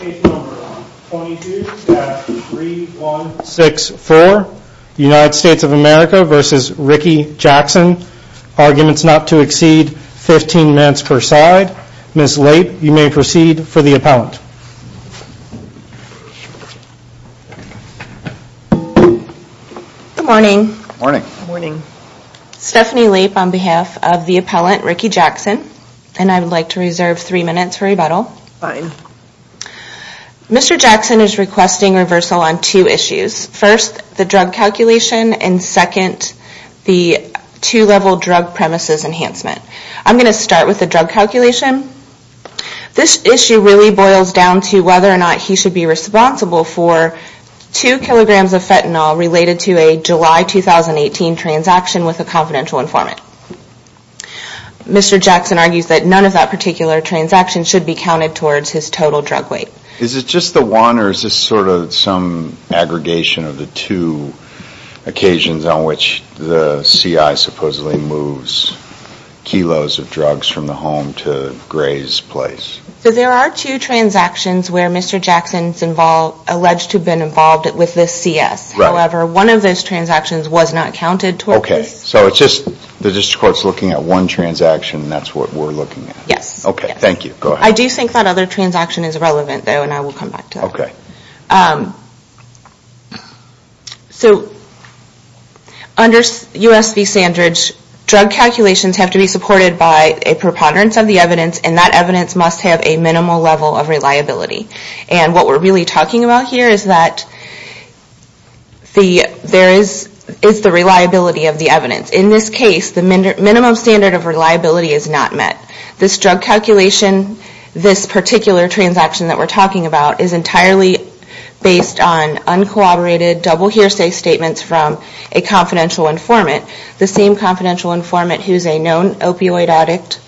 Page number 22-3164 United States of America v. Ricky Jackson Arguments not to exceed 15 minutes per side Ms. Lape, you may proceed for the appellant Good morning Stephanie Lape on behalf of the appellant Ricky Jackson And I would like to reserve three minutes for rebuttal Fine Mr. Jackson is requesting reversal on two issues First, the drug calculation And second, the two-level drug premises enhancement I'm going to start with the drug calculation This issue really boils down to whether or not he should be responsible for Two kilograms of fentanyl related to a July 2018 transaction with a confidential informant Mr. Jackson argues that none of that particular transaction should be counted towards his total drug weight Is it just the one or is this sort of some aggregation of the two Occasions on which the CI supposedly moves kilos of drugs from the home to Gray's place There are two transactions where Mr. Jackson is alleged to have been involved with this CS However, one of those transactions was not counted towards Okay, so it's just the district court is looking at one transaction and that's what we're looking at Yes Okay, thank you, go ahead I do think that other transaction is relevant though and I will come back to that Under US v. Sandridge, drug calculations have to be supported by a preponderance of the evidence And that evidence must have a minimal level of reliability And what we're really talking about here is that there is the reliability of the evidence In this case, the minimum standard of reliability is not met This drug calculation, this particular transaction that we're talking about Is entirely based on uncooperated double hearsay statements from a confidential informant The same confidential informant who is a known opioid addict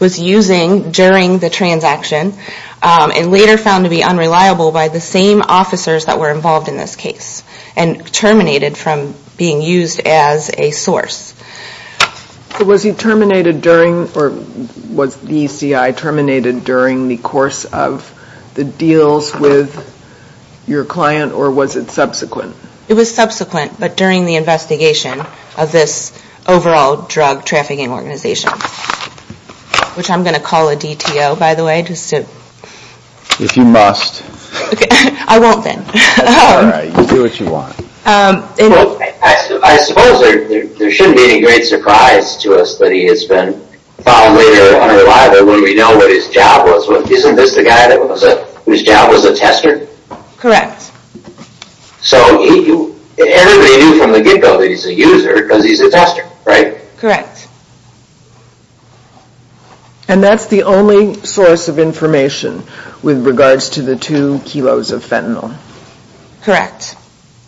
was using during the transaction And later found to be unreliable by the same officers that were involved in this case And terminated from being used as a source Was the ECI terminated during the course of the deals with your client or was it subsequent? It was subsequent but during the investigation of this overall drug trafficking organization Which I'm going to call a DTO by the way If you must I won't then Alright, you do what you want I suppose there shouldn't be any great surprise to us that he has been found later unreliable When we know that his job was, isn't this the guy whose job was a tester? Correct So everybody knew from the get go that he's a user because he's a tester, right? Correct And that's the only source of information with regards to the 2 kilos of fentanyl?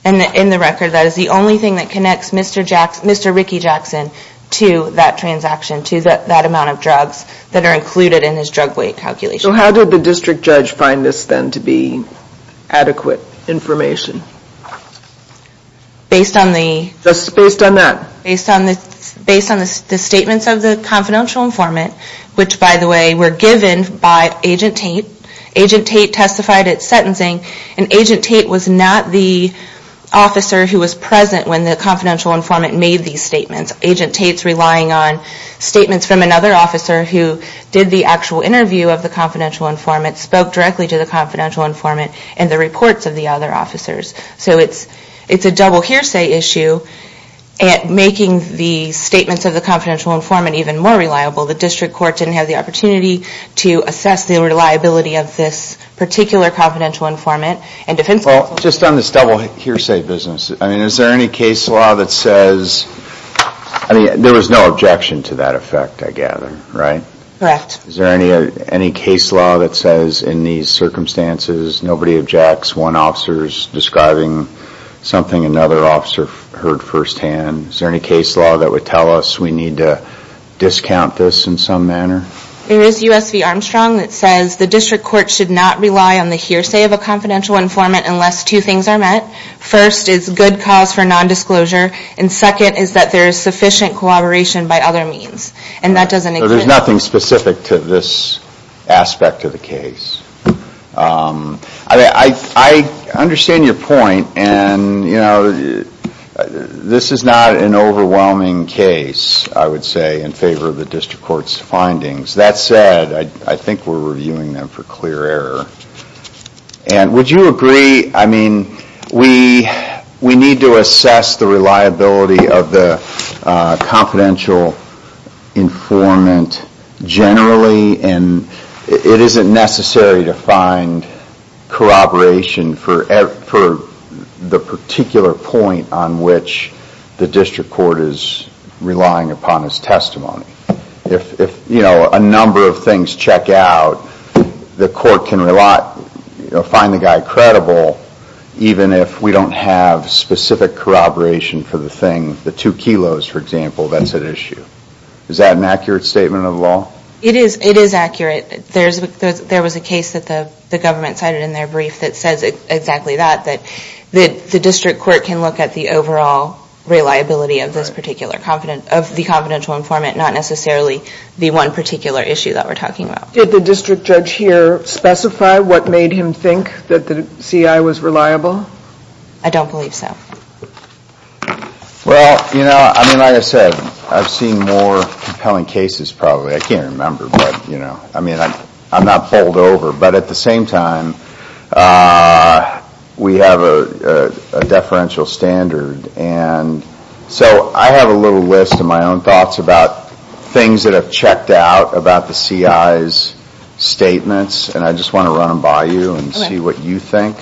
And in the record that is the only thing that connects Mr. Ricky Jackson to that transaction To that amount of drugs that are included in his drug weight calculation So how did the district judge find this then to be adequate information? Based on the Just based on that Based on the statements of the confidential informant Which by the way were given by Agent Tate Agent Tate testified at sentencing And Agent Tate was not the officer who was present when the confidential informant made these statements Agent Tate's relying on statements from another officer who did the actual interview of the confidential informant Spoke directly to the confidential informant and the reports of the other officers So it's a double hearsay issue Making the statements of the confidential informant even more reliable The district court didn't have the opportunity to assess the reliability of this particular confidential informant Well just on this double hearsay business I mean is there any case law that says I mean there was no objection to that effect I gather, right? Correct Is there any case law that says in these circumstances nobody objects One officer is describing something another officer heard first hand Is there any case law that would tell us we need to discount this in some manner? There is U.S. v. Armstrong that says The district court should not rely on the hearsay of a confidential informant unless two things are met First is good cause for non-disclosure And second is that there is sufficient collaboration by other means And that doesn't include So there's nothing specific to this aspect of the case I understand your point And you know this is not an overwhelming case I would say in favor of the district court's findings That said, I think we're reviewing them for clear error And would you agree, I mean We need to assess the reliability of the confidential informant generally It isn't necessary to find corroboration for the particular point On which the district court is relying upon as testimony If a number of things check out The court can find the guy credible Even if we don't have specific corroboration for the thing The two kilos for example, that's at issue Is that an accurate statement of the law? It is accurate There was a case that the government cited in their brief That says exactly that That the district court can look at the overall reliability of this particular Of the confidential informant Not necessarily the one particular issue that we're talking about Did the district judge here specify what made him think that the CI was reliable? I don't believe so Well, you know, I mean like I said I've seen more compelling cases probably I can't remember, but you know I mean, I'm not bowled over But at the same time We have a deferential standard And so I have a little list of my own thoughts about Things that I've checked out about the CI's statements And I just want to run them by you and see what you think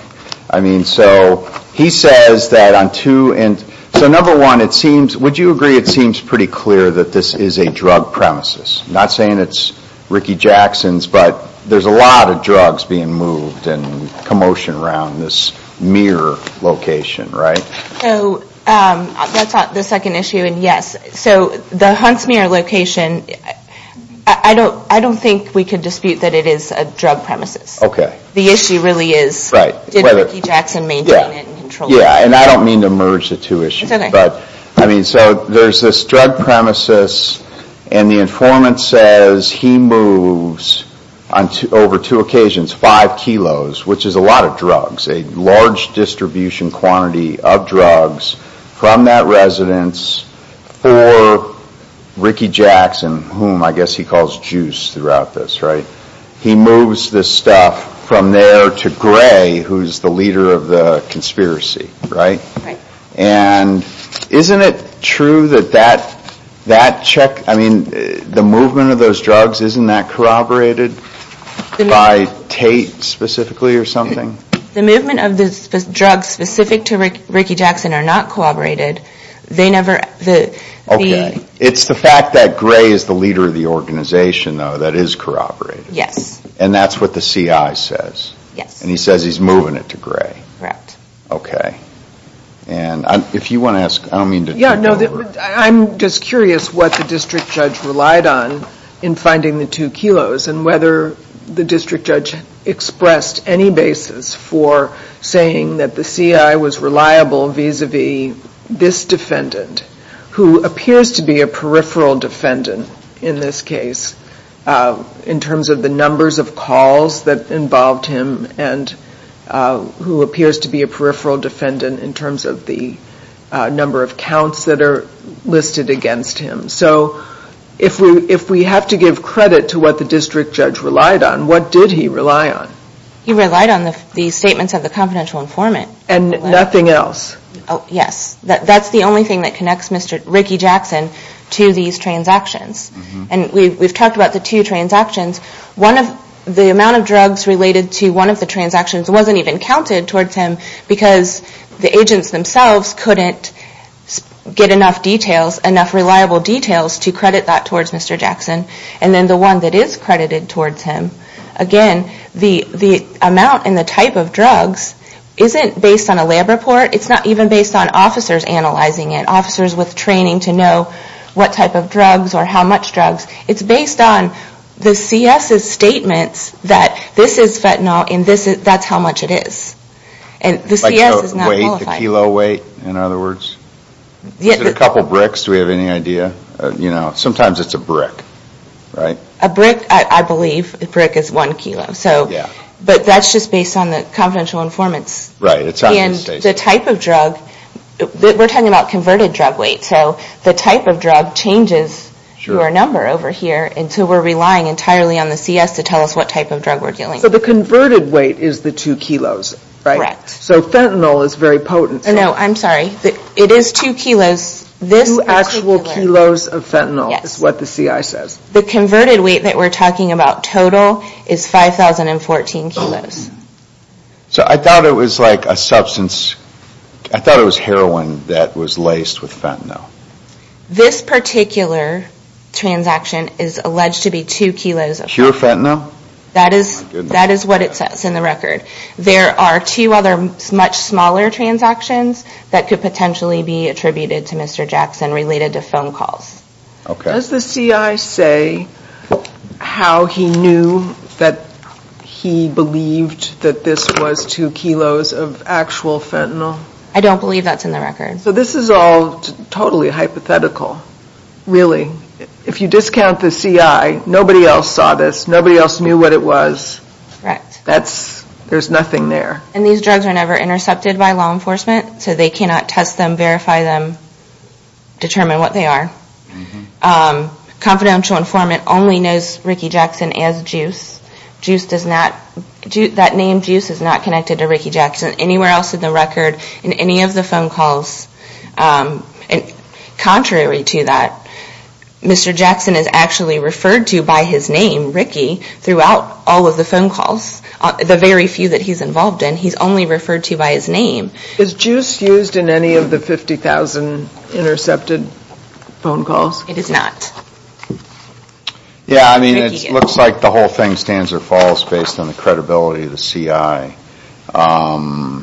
I mean, so he says that on two So number one, would you agree it seems pretty clear that this is a drug premises? Not saying it's Ricky Jackson's But there's a lot of drugs being moved And commotion around this mirror location, right? So that's the second issue, and yes So the Huntsmere location I don't think we can dispute that it is a drug premises The issue really is Did Ricky Jackson maintain it and control it? Yeah, and I don't mean to merge the two issues So there's this drug premises And the informant says he moves Over two occasions, five kilos Which is a lot of drugs A large distribution quantity of drugs From that residence For Ricky Jackson Whom I guess he calls Juice throughout this, right? He moves this stuff from there to Gray Who's the leader of the conspiracy, right? And isn't it true that that check I mean, the movement of those drugs Isn't that corroborated by Tate specifically or something? The movement of the drugs specific to Ricky Jackson are not corroborated They never Okay, it's the fact that Gray is the leader of the organization though That is corroborated Yes And that's what the CI says Yes And he says he's moving it to Gray Correct Okay And if you want to ask, I don't mean to Yeah, no, I'm just curious what the district judge relied on In finding the two kilos And whether the district judge expressed any basis For saying that the CI was reliable vis-a-vis this defendant Who appears to be a peripheral defendant in this case In terms of the numbers of calls that involved him And who appears to be a peripheral defendant In terms of the number of counts that are listed against him So if we have to give credit to what the district judge relied on What did he rely on? He relied on the statements of the confidential informant And nothing else? Yes That's the only thing that connects Ricky Jackson to these transactions And we've talked about the two transactions The amount of drugs related to one of the transactions Wasn't even counted towards him Because the agents themselves couldn't get enough details Enough reliable details to credit that towards Mr. Jackson And then the one that is credited towards him Again, the amount and the type of drugs Isn't based on a lab report It's not even based on officers analyzing it Or what type of drugs or how much drugs It's based on the CS' statements That this is fentanyl and that's how much it is And the CS is not qualified Like the weight, the kilo weight in other words? Is it a couple bricks? Do we have any idea? You know, sometimes it's a brick, right? A brick, I believe, a brick is one kilo But that's just based on the confidential informants And the type of drug We're talking about converted drug weight So the type of drug changes through our number over here And so we're relying entirely on the CS To tell us what type of drug we're dealing with So the converted weight is the two kilos, right? Correct So fentanyl is very potent No, I'm sorry, it is two kilos Two actual kilos of fentanyl is what the CI says The converted weight that we're talking about total Is 5,014 kilos So I thought it was like a substance I thought it was heroin that was laced with fentanyl This particular transaction is alleged to be two kilos Pure fentanyl? That is what it says in the record There are two other much smaller transactions That could potentially be attributed to Mr. Jackson Related to phone calls Does the CI say how he knew that he believed That this was two kilos of actual fentanyl? I don't believe that's in the record So this is all totally hypothetical Really If you discount the CI Nobody else saw this Nobody else knew what it was Correct There's nothing there And these drugs are never intercepted by law enforcement So they cannot test them, verify them Determine what they are Confidential informant only knows Ricky Jackson as Juice That name Juice is not connected to Ricky Jackson Anywhere else in the record In any of the phone calls Contrary to that Mr. Jackson is actually referred to by his name, Ricky Throughout all of the phone calls The very few that he's involved in He's only referred to by his name Is Juice used in any of the 50,000 intercepted phone calls? It is not Yeah, I mean it looks like the whole thing stands or falls Based on the credibility of the CI Now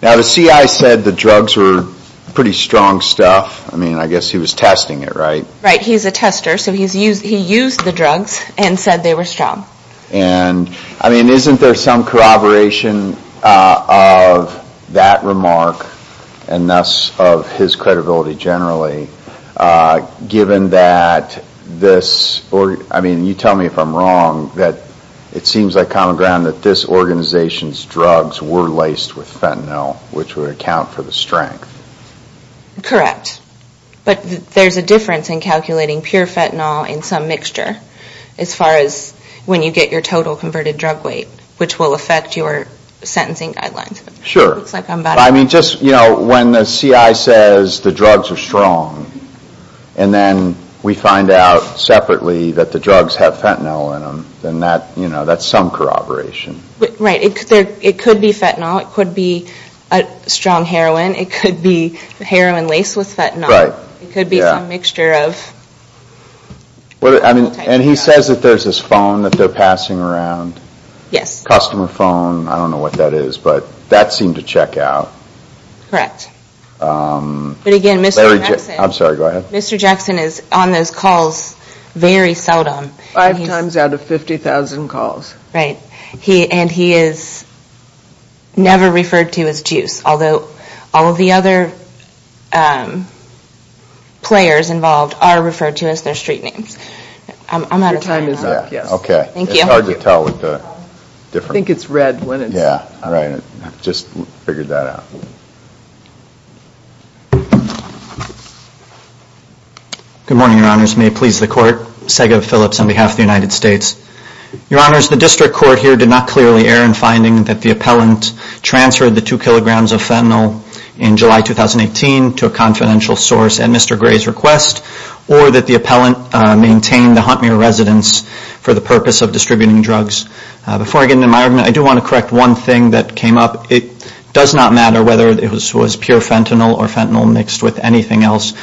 the CI said the drugs were pretty strong stuff I mean I guess he was testing it, right? Right, he's a tester So he used the drugs and said they were strong And I mean isn't there some corroboration of that remark And thus of his credibility generally Given that this I mean you tell me if I'm wrong That it seems like common ground that this organization's drugs Were laced with fentanyl Which would account for the strength Correct But there's a difference in calculating pure fentanyl in some mixture As far as when you get your total converted drug weight Which will affect your sentencing guidelines Sure I mean just when the CI says the drugs are strong And then we find out separately that the drugs have fentanyl in them Then that's some corroboration Right, it could be fentanyl It could be a strong heroin It could be heroin laced with fentanyl It could be some mixture of And he says that there's this phone that they're passing around Yes Customer phone, I don't know what that is But that seemed to check out Correct But again, Mr. Jackson I'm sorry, go ahead Mr. Jackson is on those calls very seldom Five times out of 50,000 calls Right, and he is never referred to as Juice Although all of the other players involved are referred to as their street names I'm out of time now Your time is up, yes Okay Thank you It's hard to tell with the different I think it's red when it's Yeah, all right, I just figured that out Good morning, your honors May it please the court Sega Phillips on behalf of the United States Your honors, the district court here did not clearly err in finding that the appellant Transferred the two kilograms of fentanyl In July 2018 to a confidential source at Mr. Gray's request Or that the appellant maintained the Huntmere residence For the purpose of distributing drugs Before I get into my argument I do want to correct one thing that came up It does not matter whether it was pure fentanyl Or fentanyl mixed with anything else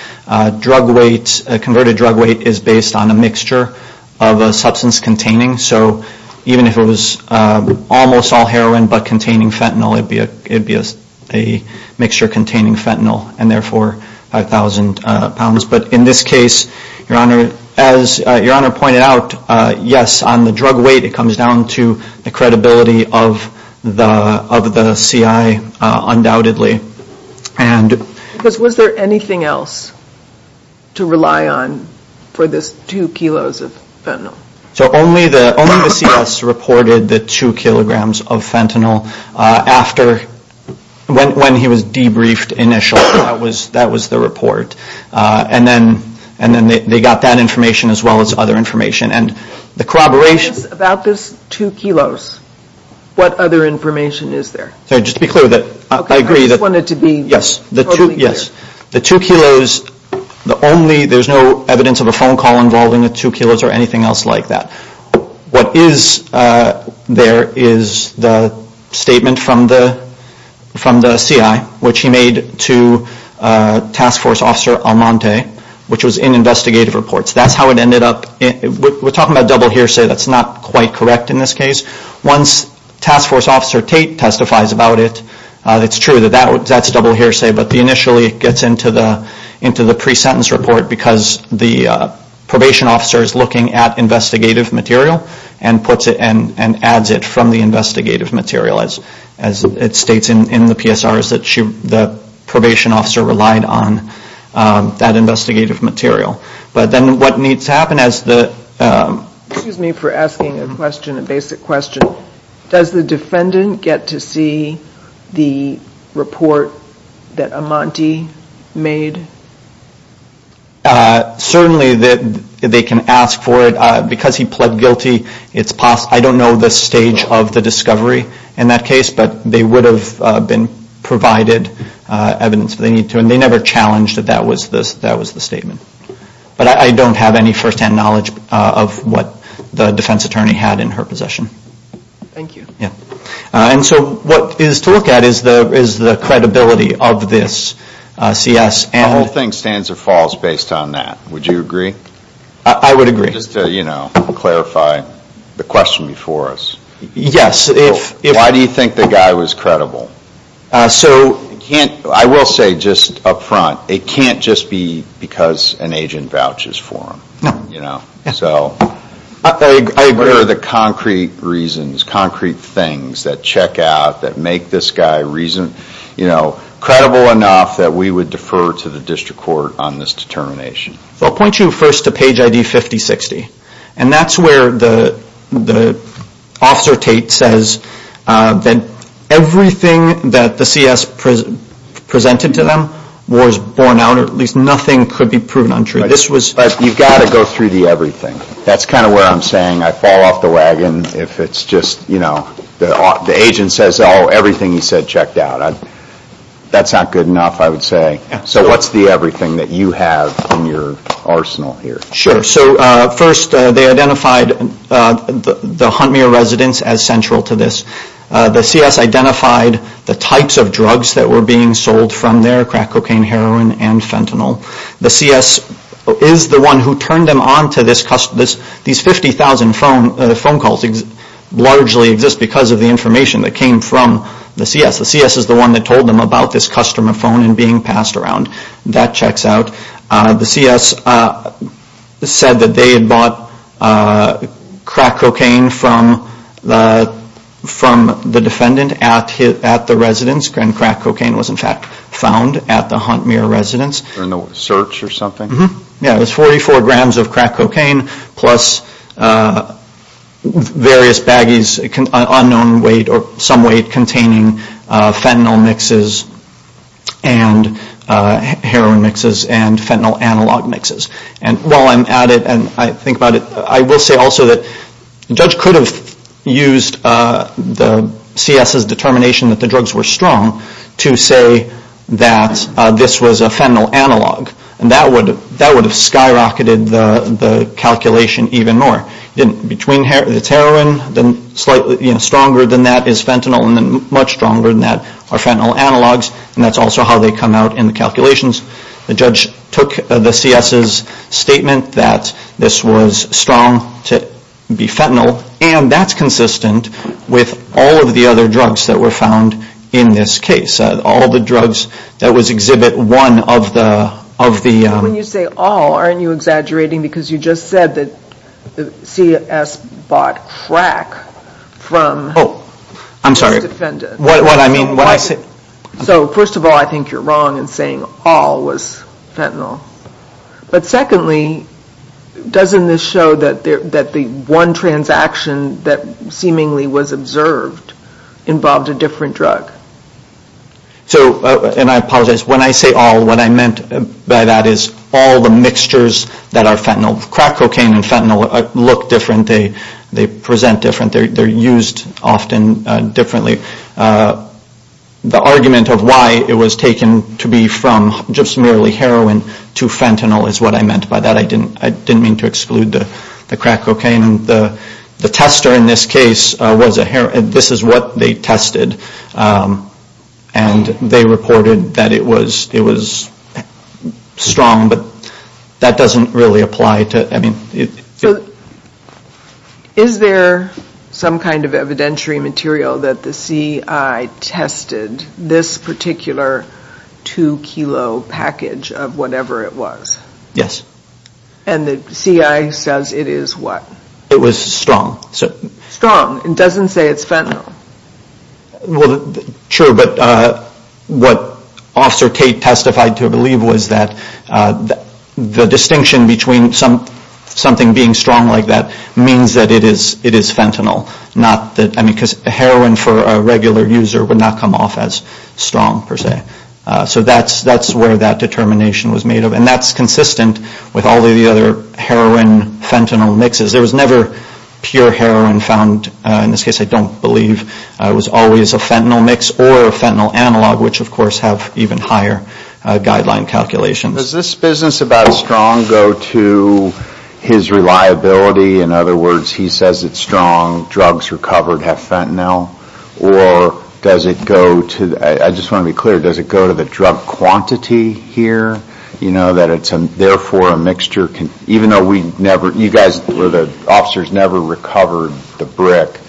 Drug weight, converted drug weight Is based on a mixture of a substance containing So even if it was almost all heroin But containing fentanyl It would be a mixture containing fentanyl And therefore 5,000 pounds But in this case, your honor As your honor pointed out Yes, on the drug weight It comes down to the credibility of the C.I. Undoubtedly And Because was there anything else To rely on for this two kilos of fentanyl So only the C.S. reported the two kilograms of fentanyl After, when he was debriefed initially That was the report And then they got that information As well as other information And the corroboration About this two kilos What other information is there? Just to be clear I agree I just wanted to be totally clear Yes The two kilos The only There's no evidence of a phone call Involving the two kilos Or anything else like that What is there Is the statement from the C.I. Which he made to task force officer Almonte Which was in investigative reports That's how it ended up We're talking about double hearsay That's not quite correct in this case Once task force officer Tate testifies about it It's true that that's double hearsay But initially it gets into the pre-sentence report Because the probation officer is looking at investigative material And puts it And adds it from the investigative material As it states in the PSR Is that the probation officer relied on That investigative material But then what needs to happen As the Excuse me for asking a question A basic question Does the defendant get to see The report that Almonte made? Certainly they can ask for it Because he pled guilty I don't know the stage of the discovery In that case But they would have been provided Evidence if they need to And they never challenged that That was the statement But I don't have any first-hand knowledge Of what the defense attorney had in her possession Thank you And so what is to look at Is the credibility of this CS The whole thing stands or falls based on that Would you agree? I would agree Just to clarify the question before us Yes Why do you think the guy was credible? I will say just up front It can't just be because an agent vouches for him No So I hear the concrete reasons Concrete things that check out That make this guy credible enough That we would defer to the district court On this determination I will point you first to page ID 5060 And that's where the officer Tate says That everything that the CS presented to them Was borne out Or at least nothing could be proven untrue But you've got to go through the everything That's kind of where I'm saying I fall off the wagon If it's just, you know The agent says everything he said checked out That's not good enough I would say So what's the everything that you have in your arsenal here? Sure So first they identified the Huntmere residence As central to this The CS identified the types of drugs That were being sold from there Crack cocaine, heroin, and fentanyl The CS is the one who turned them on to this These 50,000 phone calls Largely exist because of the information That came from the CS The CS is the one that told them about this customer phone And being passed around That checks out The CS said that they had bought crack cocaine From the defendant at the residence And crack cocaine was in fact found At the Huntmere residence In a search or something? Yeah, it was 44 grams of crack cocaine Plus various baggies Unknown weight or some weight Containing fentanyl mixes And heroin mixes And fentanyl analog mixes And while I'm at it And I think about it I will say also that The judge could have used the CS's determination That the drugs were strong To say that this was a fentanyl analog And that would have skyrocketed the calculation even more Between the heroin Stronger than that is fentanyl And much stronger than that are fentanyl analogs And that's also how they come out in the calculations The judge took the CS's statement That this was strong to be fentanyl And that's consistent with all of the other drugs That were found in this case All the drugs that was exhibit one of the When you say all Aren't you exaggerating Because you just said that The CS bought crack from Oh, I'm sorry What I mean So first of all I think you're wrong In saying all was fentanyl But secondly Doesn't this show that the one transaction That seemingly was observed Involved a different drug And I apologize When I say all What I meant by that is All the mixtures that are fentanyl Crack cocaine and fentanyl look different They present different They're used often differently The argument of why it was taken To be from just merely heroin To fentanyl is what I meant by that I didn't mean to exclude the crack cocaine The tester in this case Was a heroin This is what they tested And they reported that it was Strong but That doesn't really apply to I mean So Is there some kind of evidentiary material That the CI tested This particular 2 kilo package Of whatever it was Yes And the CI says it is what? It was strong Strong It doesn't say it's fentanyl Well Sure but What Officer Tate testified to believe was that The distinction between Something being strong like that Means that it is fentanyl Not that I mean because heroin for a regular user Would not come off as strong per se So that's where that determination was made of And that's consistent with all the other Heroin fentanyl mixes There was never pure heroin found In this case I don't believe It was always a fentanyl mix Or a fentanyl analog Which of course have even higher Guideline calculations Does this business about strong go to His reliability In other words He says it's strong Drugs recovered have fentanyl Or Does it go to I just want to be clear Does it go to the drug quantity here You know that it's Therefore a mixture Even though we never You guys The officers never recovered the brick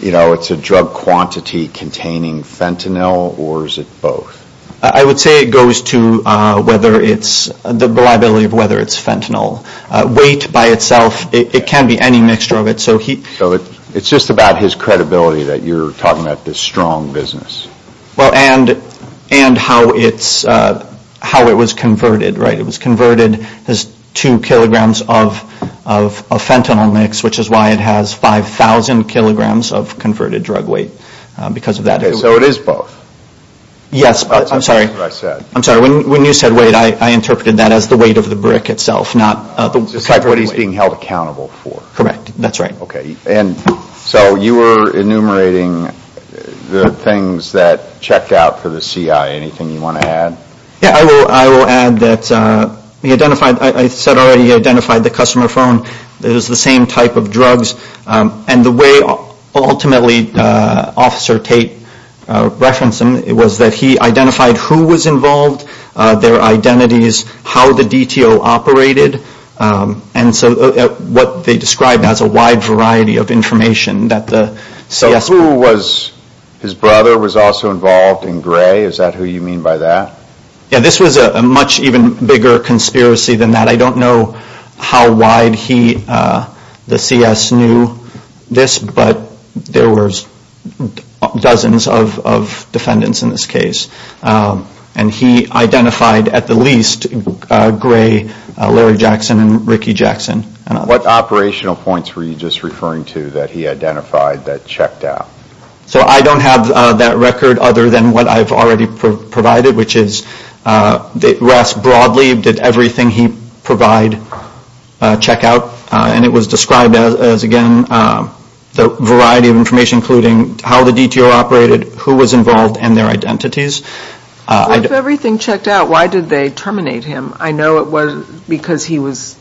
You know it's a drug quantity Containing fentanyl Or is it both I would say it goes to Whether it's The reliability of whether it's fentanyl Weight by itself It can be any mixture of it So it's just about his credibility That you're talking about this strong business Well and And how it's How it was converted It was converted As two kilograms of Of fentanyl mix Which is why it has Five thousand kilograms Of converted drug weight Because of that So it is both Yes I'm sorry I'm sorry When you said weight I interpreted that As the weight of the brick itself Not the What he's being held accountable for Correct That's right Okay And so you were enumerating The things that Checked out for the CI Anything you want to add Yeah I will I will add that He identified I said already He identified the customer phone It was the same type of drugs And the way Ultimately Officer Tate Referenced them Was that he identified Who was involved Their identities How the DTO operated And so What they described as A wide variety of information That the CS So who was His brother Was also involved And Gray Is that who you mean by that Yeah this was a Much even bigger Conspiracy than that I don't know How wide he The CS knew This but There was Dozens of Defendants in this case And he identified At the least Gray Larry Jackson And Ricky Jackson What operational points Were you just referring to That he identified That checked out So I don't have That record Other than what I've already provided Which is That Ras broadly Did everything he Provide Check out And it was Described as Again The variety of information Including How the DTO operated Who was involved And their identities So if everything Checked out Why did they Terminate him I know it was Because he was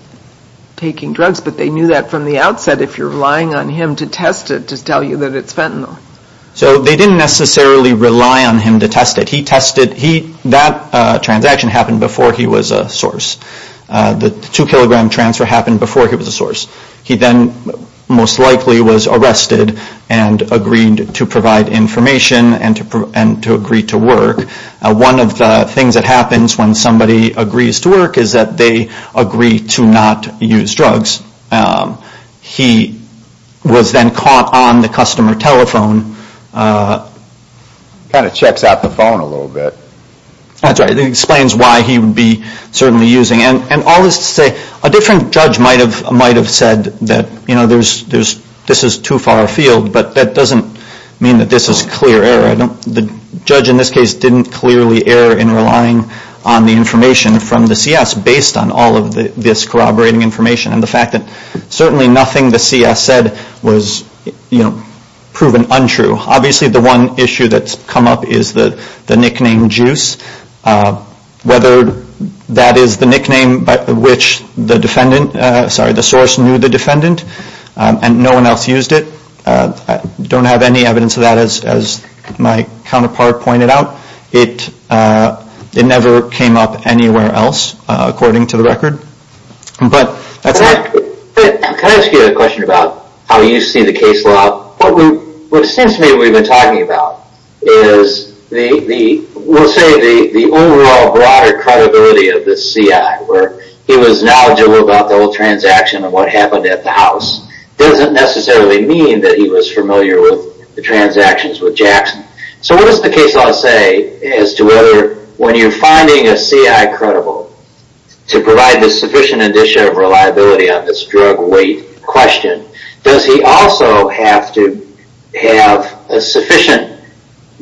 Taking drugs But they knew that From the outset If you're relying on him To test it To tell you That it's fentanyl So they didn't necessarily Rely on him To test it He tested He That transaction Happened before He was a source The 2 kilogram transfer Happened before He was a source He then Most likely Was arrested And agreed To provide information And to agree To work One of the Things that happens When somebody agrees To work Is that they Agree to not Use drugs He Was then caught On the customer Telephone Kind of Checks out The phone A little bit That's right It explains why He would be Certainly using And all this To say A different judge Might have said That this is Too far afield But that doesn't Mean that this is Clear error The judge In this case Didn't clearly Error in relying On the information From the CS Based on all of This corroborating Information And the fact that Certainly nothing The CS Said was You know Proven untrue Obviously the one Issue that's Come up is The nickname Juice Whether That is the Which the Defendant Sorry the source Knew the defendant And no one else Used it Don't have any Evidence of that As my Counterpart pointed Out It Never came up Anywhere else According to the But Can I ask you A question about How you see The case law What seems to me We've been talking about Is The We'll say The overall Broader credibility Of the CI Where he was Knowledgeable about The whole transaction And what happened At the house Doesn't necessarily Mean that he was Familiar with The transactions With Jackson So what does The case law say As to whether When you're finding A CI credible To provide A sufficient Indicia of reliability On this Drug weight Question Does he also Have to Have A sufficient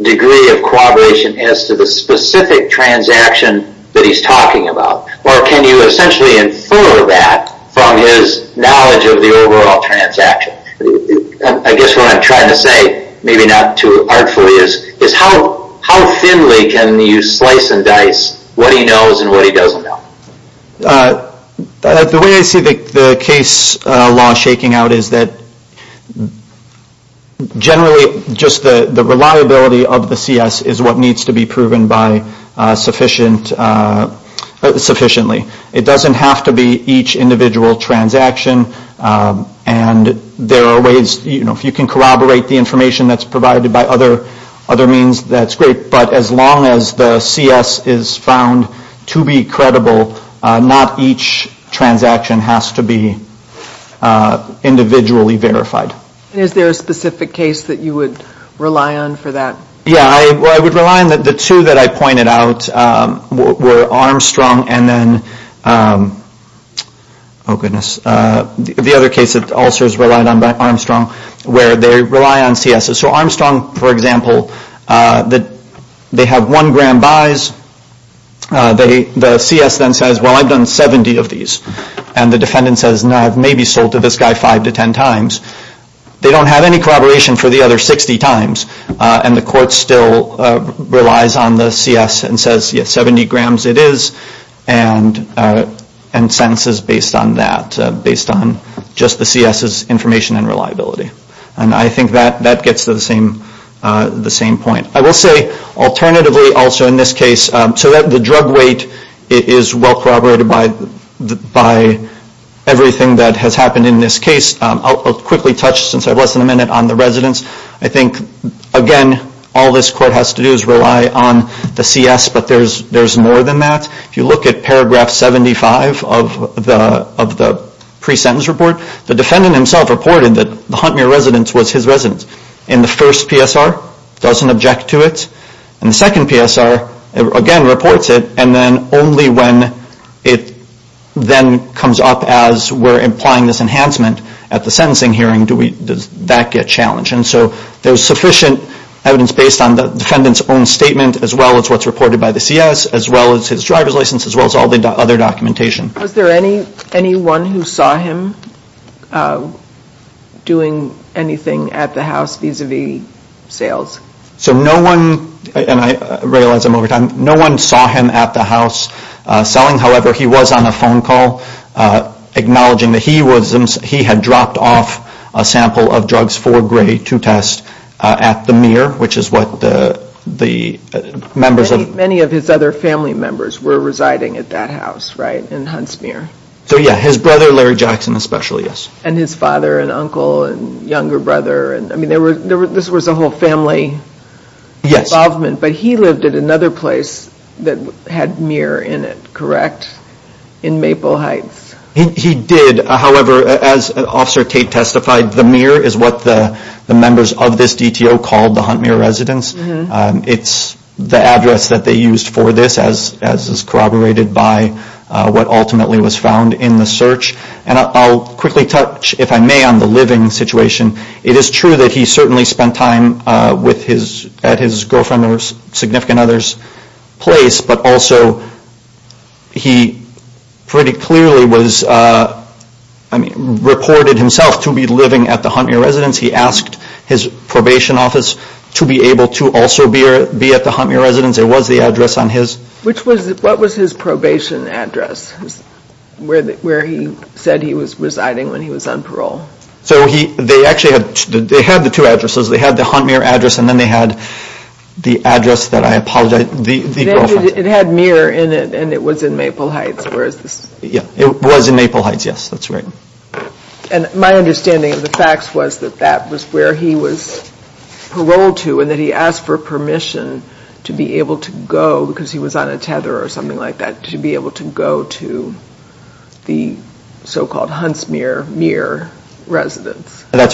Degree of Cooperation As to the Specific transaction That he's talking about Or can you Essentially infer That From his Knowledge of the Overall transaction I guess what I'm trying to say Maybe not too Artfully is Is how How thinly Can you Slice and dice What he knows And what he Doesn't know The way I see The case Law shaking Out is that Generally Just the Reliability Of the CS Is what needs To be proven By Sufficient Sufficiently It doesn't have To be Each individual Transaction And there Are ways You know If you can corroborate The information That's provided By other Other means That's great But as long As the CS Is found To be Credible Not each Transaction Has to be Individually Verified Is there a Specific case That you would Rely on For that Yeah I would rely On the two That I pointed Out Were Armstrong And then Oh goodness The other case That also is relied On by Armstrong Where they rely On CS So Armstrong For example They have One gram Buys The CS Then says Well I've done Seventy of these And the defendant Says I've maybe Sold to this guy Five to ten times They don't have Any corroboration For the other Sixty times And the court Still relies On the CS And says Yeah seventy Grams it is And sentences Based on that Based on Just the CS's Information and Reliability And I think That gets to the Point I will say Alternatively Also in this case So that the Drug weight Is well corroborated By Everything that Has happened In this case I'll quickly touch Since I have less Than a minute On the residents I think Again All this court Has to do Is rely On the CS But there's More than that If you look At paragraph Seventy five Of the Pre-sentence Report The defendant Himself reported That the Huntmere Residence was his Residence And the first PSR Doesn't object To it And the second PSR Again reports it And then only When it Then comes up As we're Implying this Enhancement At the Sentencing Hearing Does that Get challenged And so There's sufficient Evidence based On the Defendant's Own statement As well As what's Reported by the CS As well As his Driver's License As well As all The other Documentation Was there Any Anyone Who saw Him Doing Anything At the House Vis-a-vis Sales So no One And I Think To test At the MERE Which is What the Members Of Many of Family members Were residing In that House So yeah His brother Larry Jackson Especially Yes And his Father And younger Brother There was A whole Family Yes Involvement But he lived At another Place that Had MERE In it Correct In Maple Heights He did However as Officer Tate Testified the MERE Is what the Members Of this DTO Called The Hunt MERE Residence It's The address That they Used for This as Corroborated By What ultimately Was found In the search And I'll Quickly touch If I may On the Living Situation It is True that He certainly Spent time At his Girlfriend Or significant Others Place But also He Pretty Clearly Was Reported Himself To be Living At the Hunt Residence He asked His Probation Office To be Able to Also be At the Hunt Residence It was The address On his Which was What was His Probation Address Where he Said he Was residing When he Was on Parole So they Actually had The two Addresses They had The Hunt Mirror Address And then They had The address That I Apologize It had Mirror In it And it Was in Maple Heights It was In Maple Heights Yes That's Right And my Understanding Of the Hunt Residence That's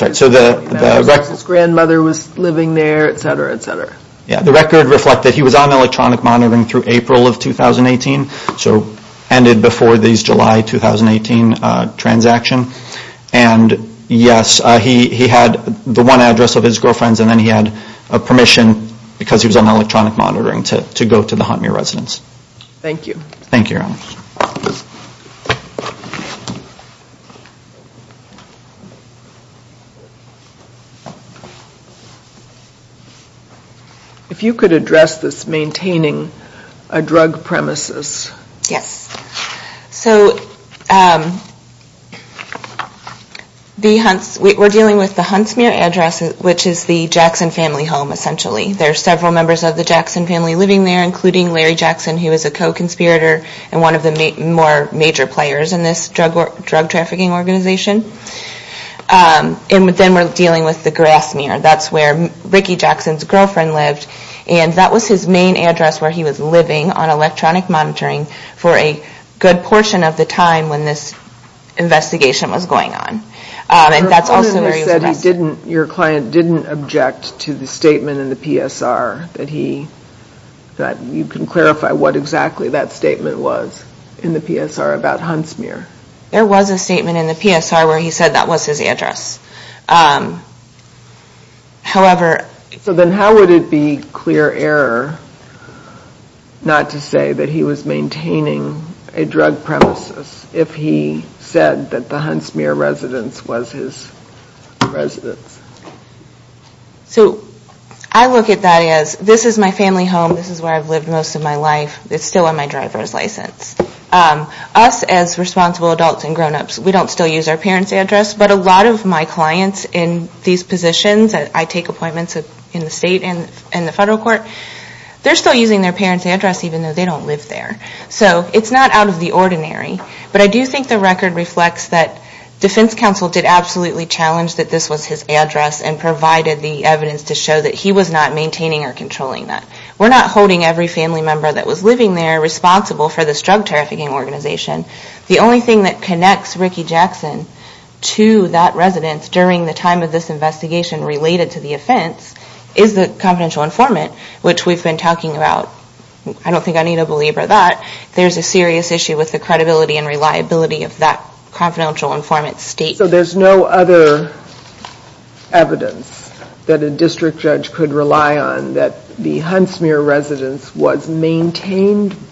Right His Grandmother Was Living There The Record Reflected He Was On Electronic Monitoring Through April Of 2018 And Yes He Had The One Address Of his Girlfriend And then He had A permission Because he Was on Electronic Monitoring To go To the Hunt Residence Thank you Thank you Your If you Could address This A drug Premises Yes So The Hunt We're Dealing With the Hunt Residence Which Is the Jackson Family Home Essentially There's Members Of the Jackson Family Living There Including Larry Jackson Who Was A Co- Conspirator And One Of The Major Players In This Drug Trafficking Organization And Then We're Dealing With The Grass Meer And Was His Main Address Where He Was Living For A Good Portion Of The Hunt Residence So How Would It Be Clear Error Not To Say That He Was Maintaining A Premises If He Said That The Residence Was His Main Address Where He Was Living Of His Address And Provided The Evidence To Show That He Was Not Maintaining Or Controlling That We're Not Holding Every Family Member That Was Living There Responsible For This Drug Trafficking Organization The Only Thing That Connects Ricky Jackson To That Residence During The Time Of This Investigation Related To The Offense Is The Confidential Informant Which We've Talking About There Is A Serious Issue With The Credibility And Reliability Of That Confidential Informant State So There Is No Other Evidence That A Judge Could Rely On That The Probation Officer Was Saying When All Of A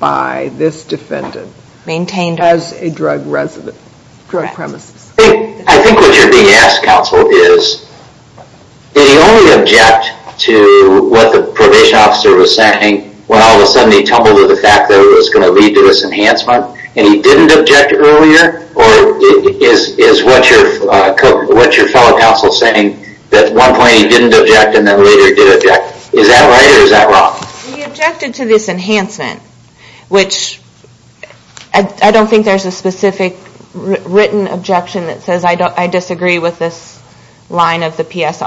He To The Fact That It Was Going To Lead To This Enhancement And He Didn't Object Earlier Or Is That Right Or Is That Wrong He Objected To This Enhancement Which I Don't Think There Is A Specific Written Objection That I Disagree With This Line Of Statement I Think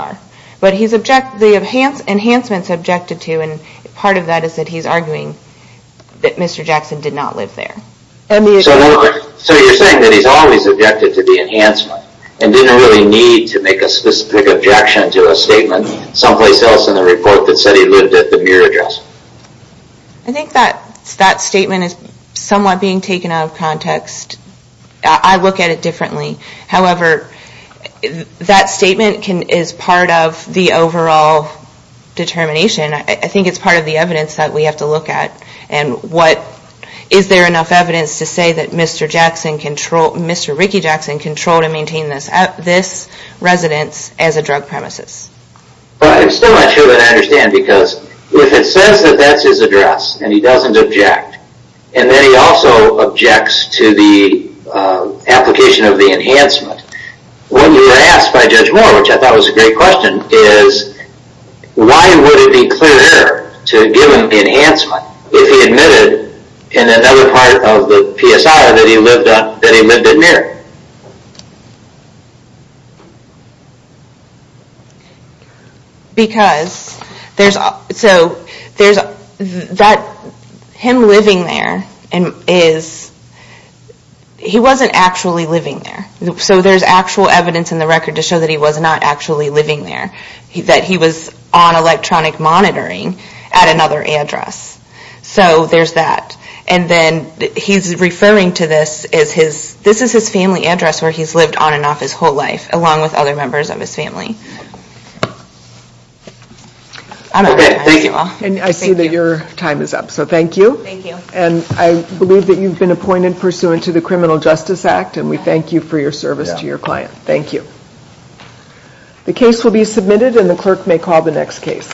That Statement Is Somewhat Being Taken Out Of I Look At It Differently However That Statement Can Be Is Part Of The Overall Determination I Think It Part Of The Evidence That We Have To Look At And What Is There Enough Evidence To Say That Mr. Jackson Controlled And Maintained This Residence As A Drug Premises I Am Still Not Sure That I Because If It Says That That Is His And He Doesn't Object And Then He Objects To The Application Of The Enhancement When You Were Asked By Judge Moore Which I Thought Was A Great Question Is Why Would It Be Clear To Give Him Enhancement If He In Another Part Of The PSI That He Lived In There Because There Is So There Is That Him Living There Is He Wasn't Actually Living There So There Actual Evidence In The Record To That He Was On Electronic Monitoring At Another Address So There Is That And This Is His Family Address Along With Other Members Of I See That Your Time Is Up So Thank You And I Believe That You Have Been Appointed Pursuant To The Criminal Justice Act And We You For Your Service To Your Client Thank You The Case Will Be Submitted The Clerk May Call The Next Case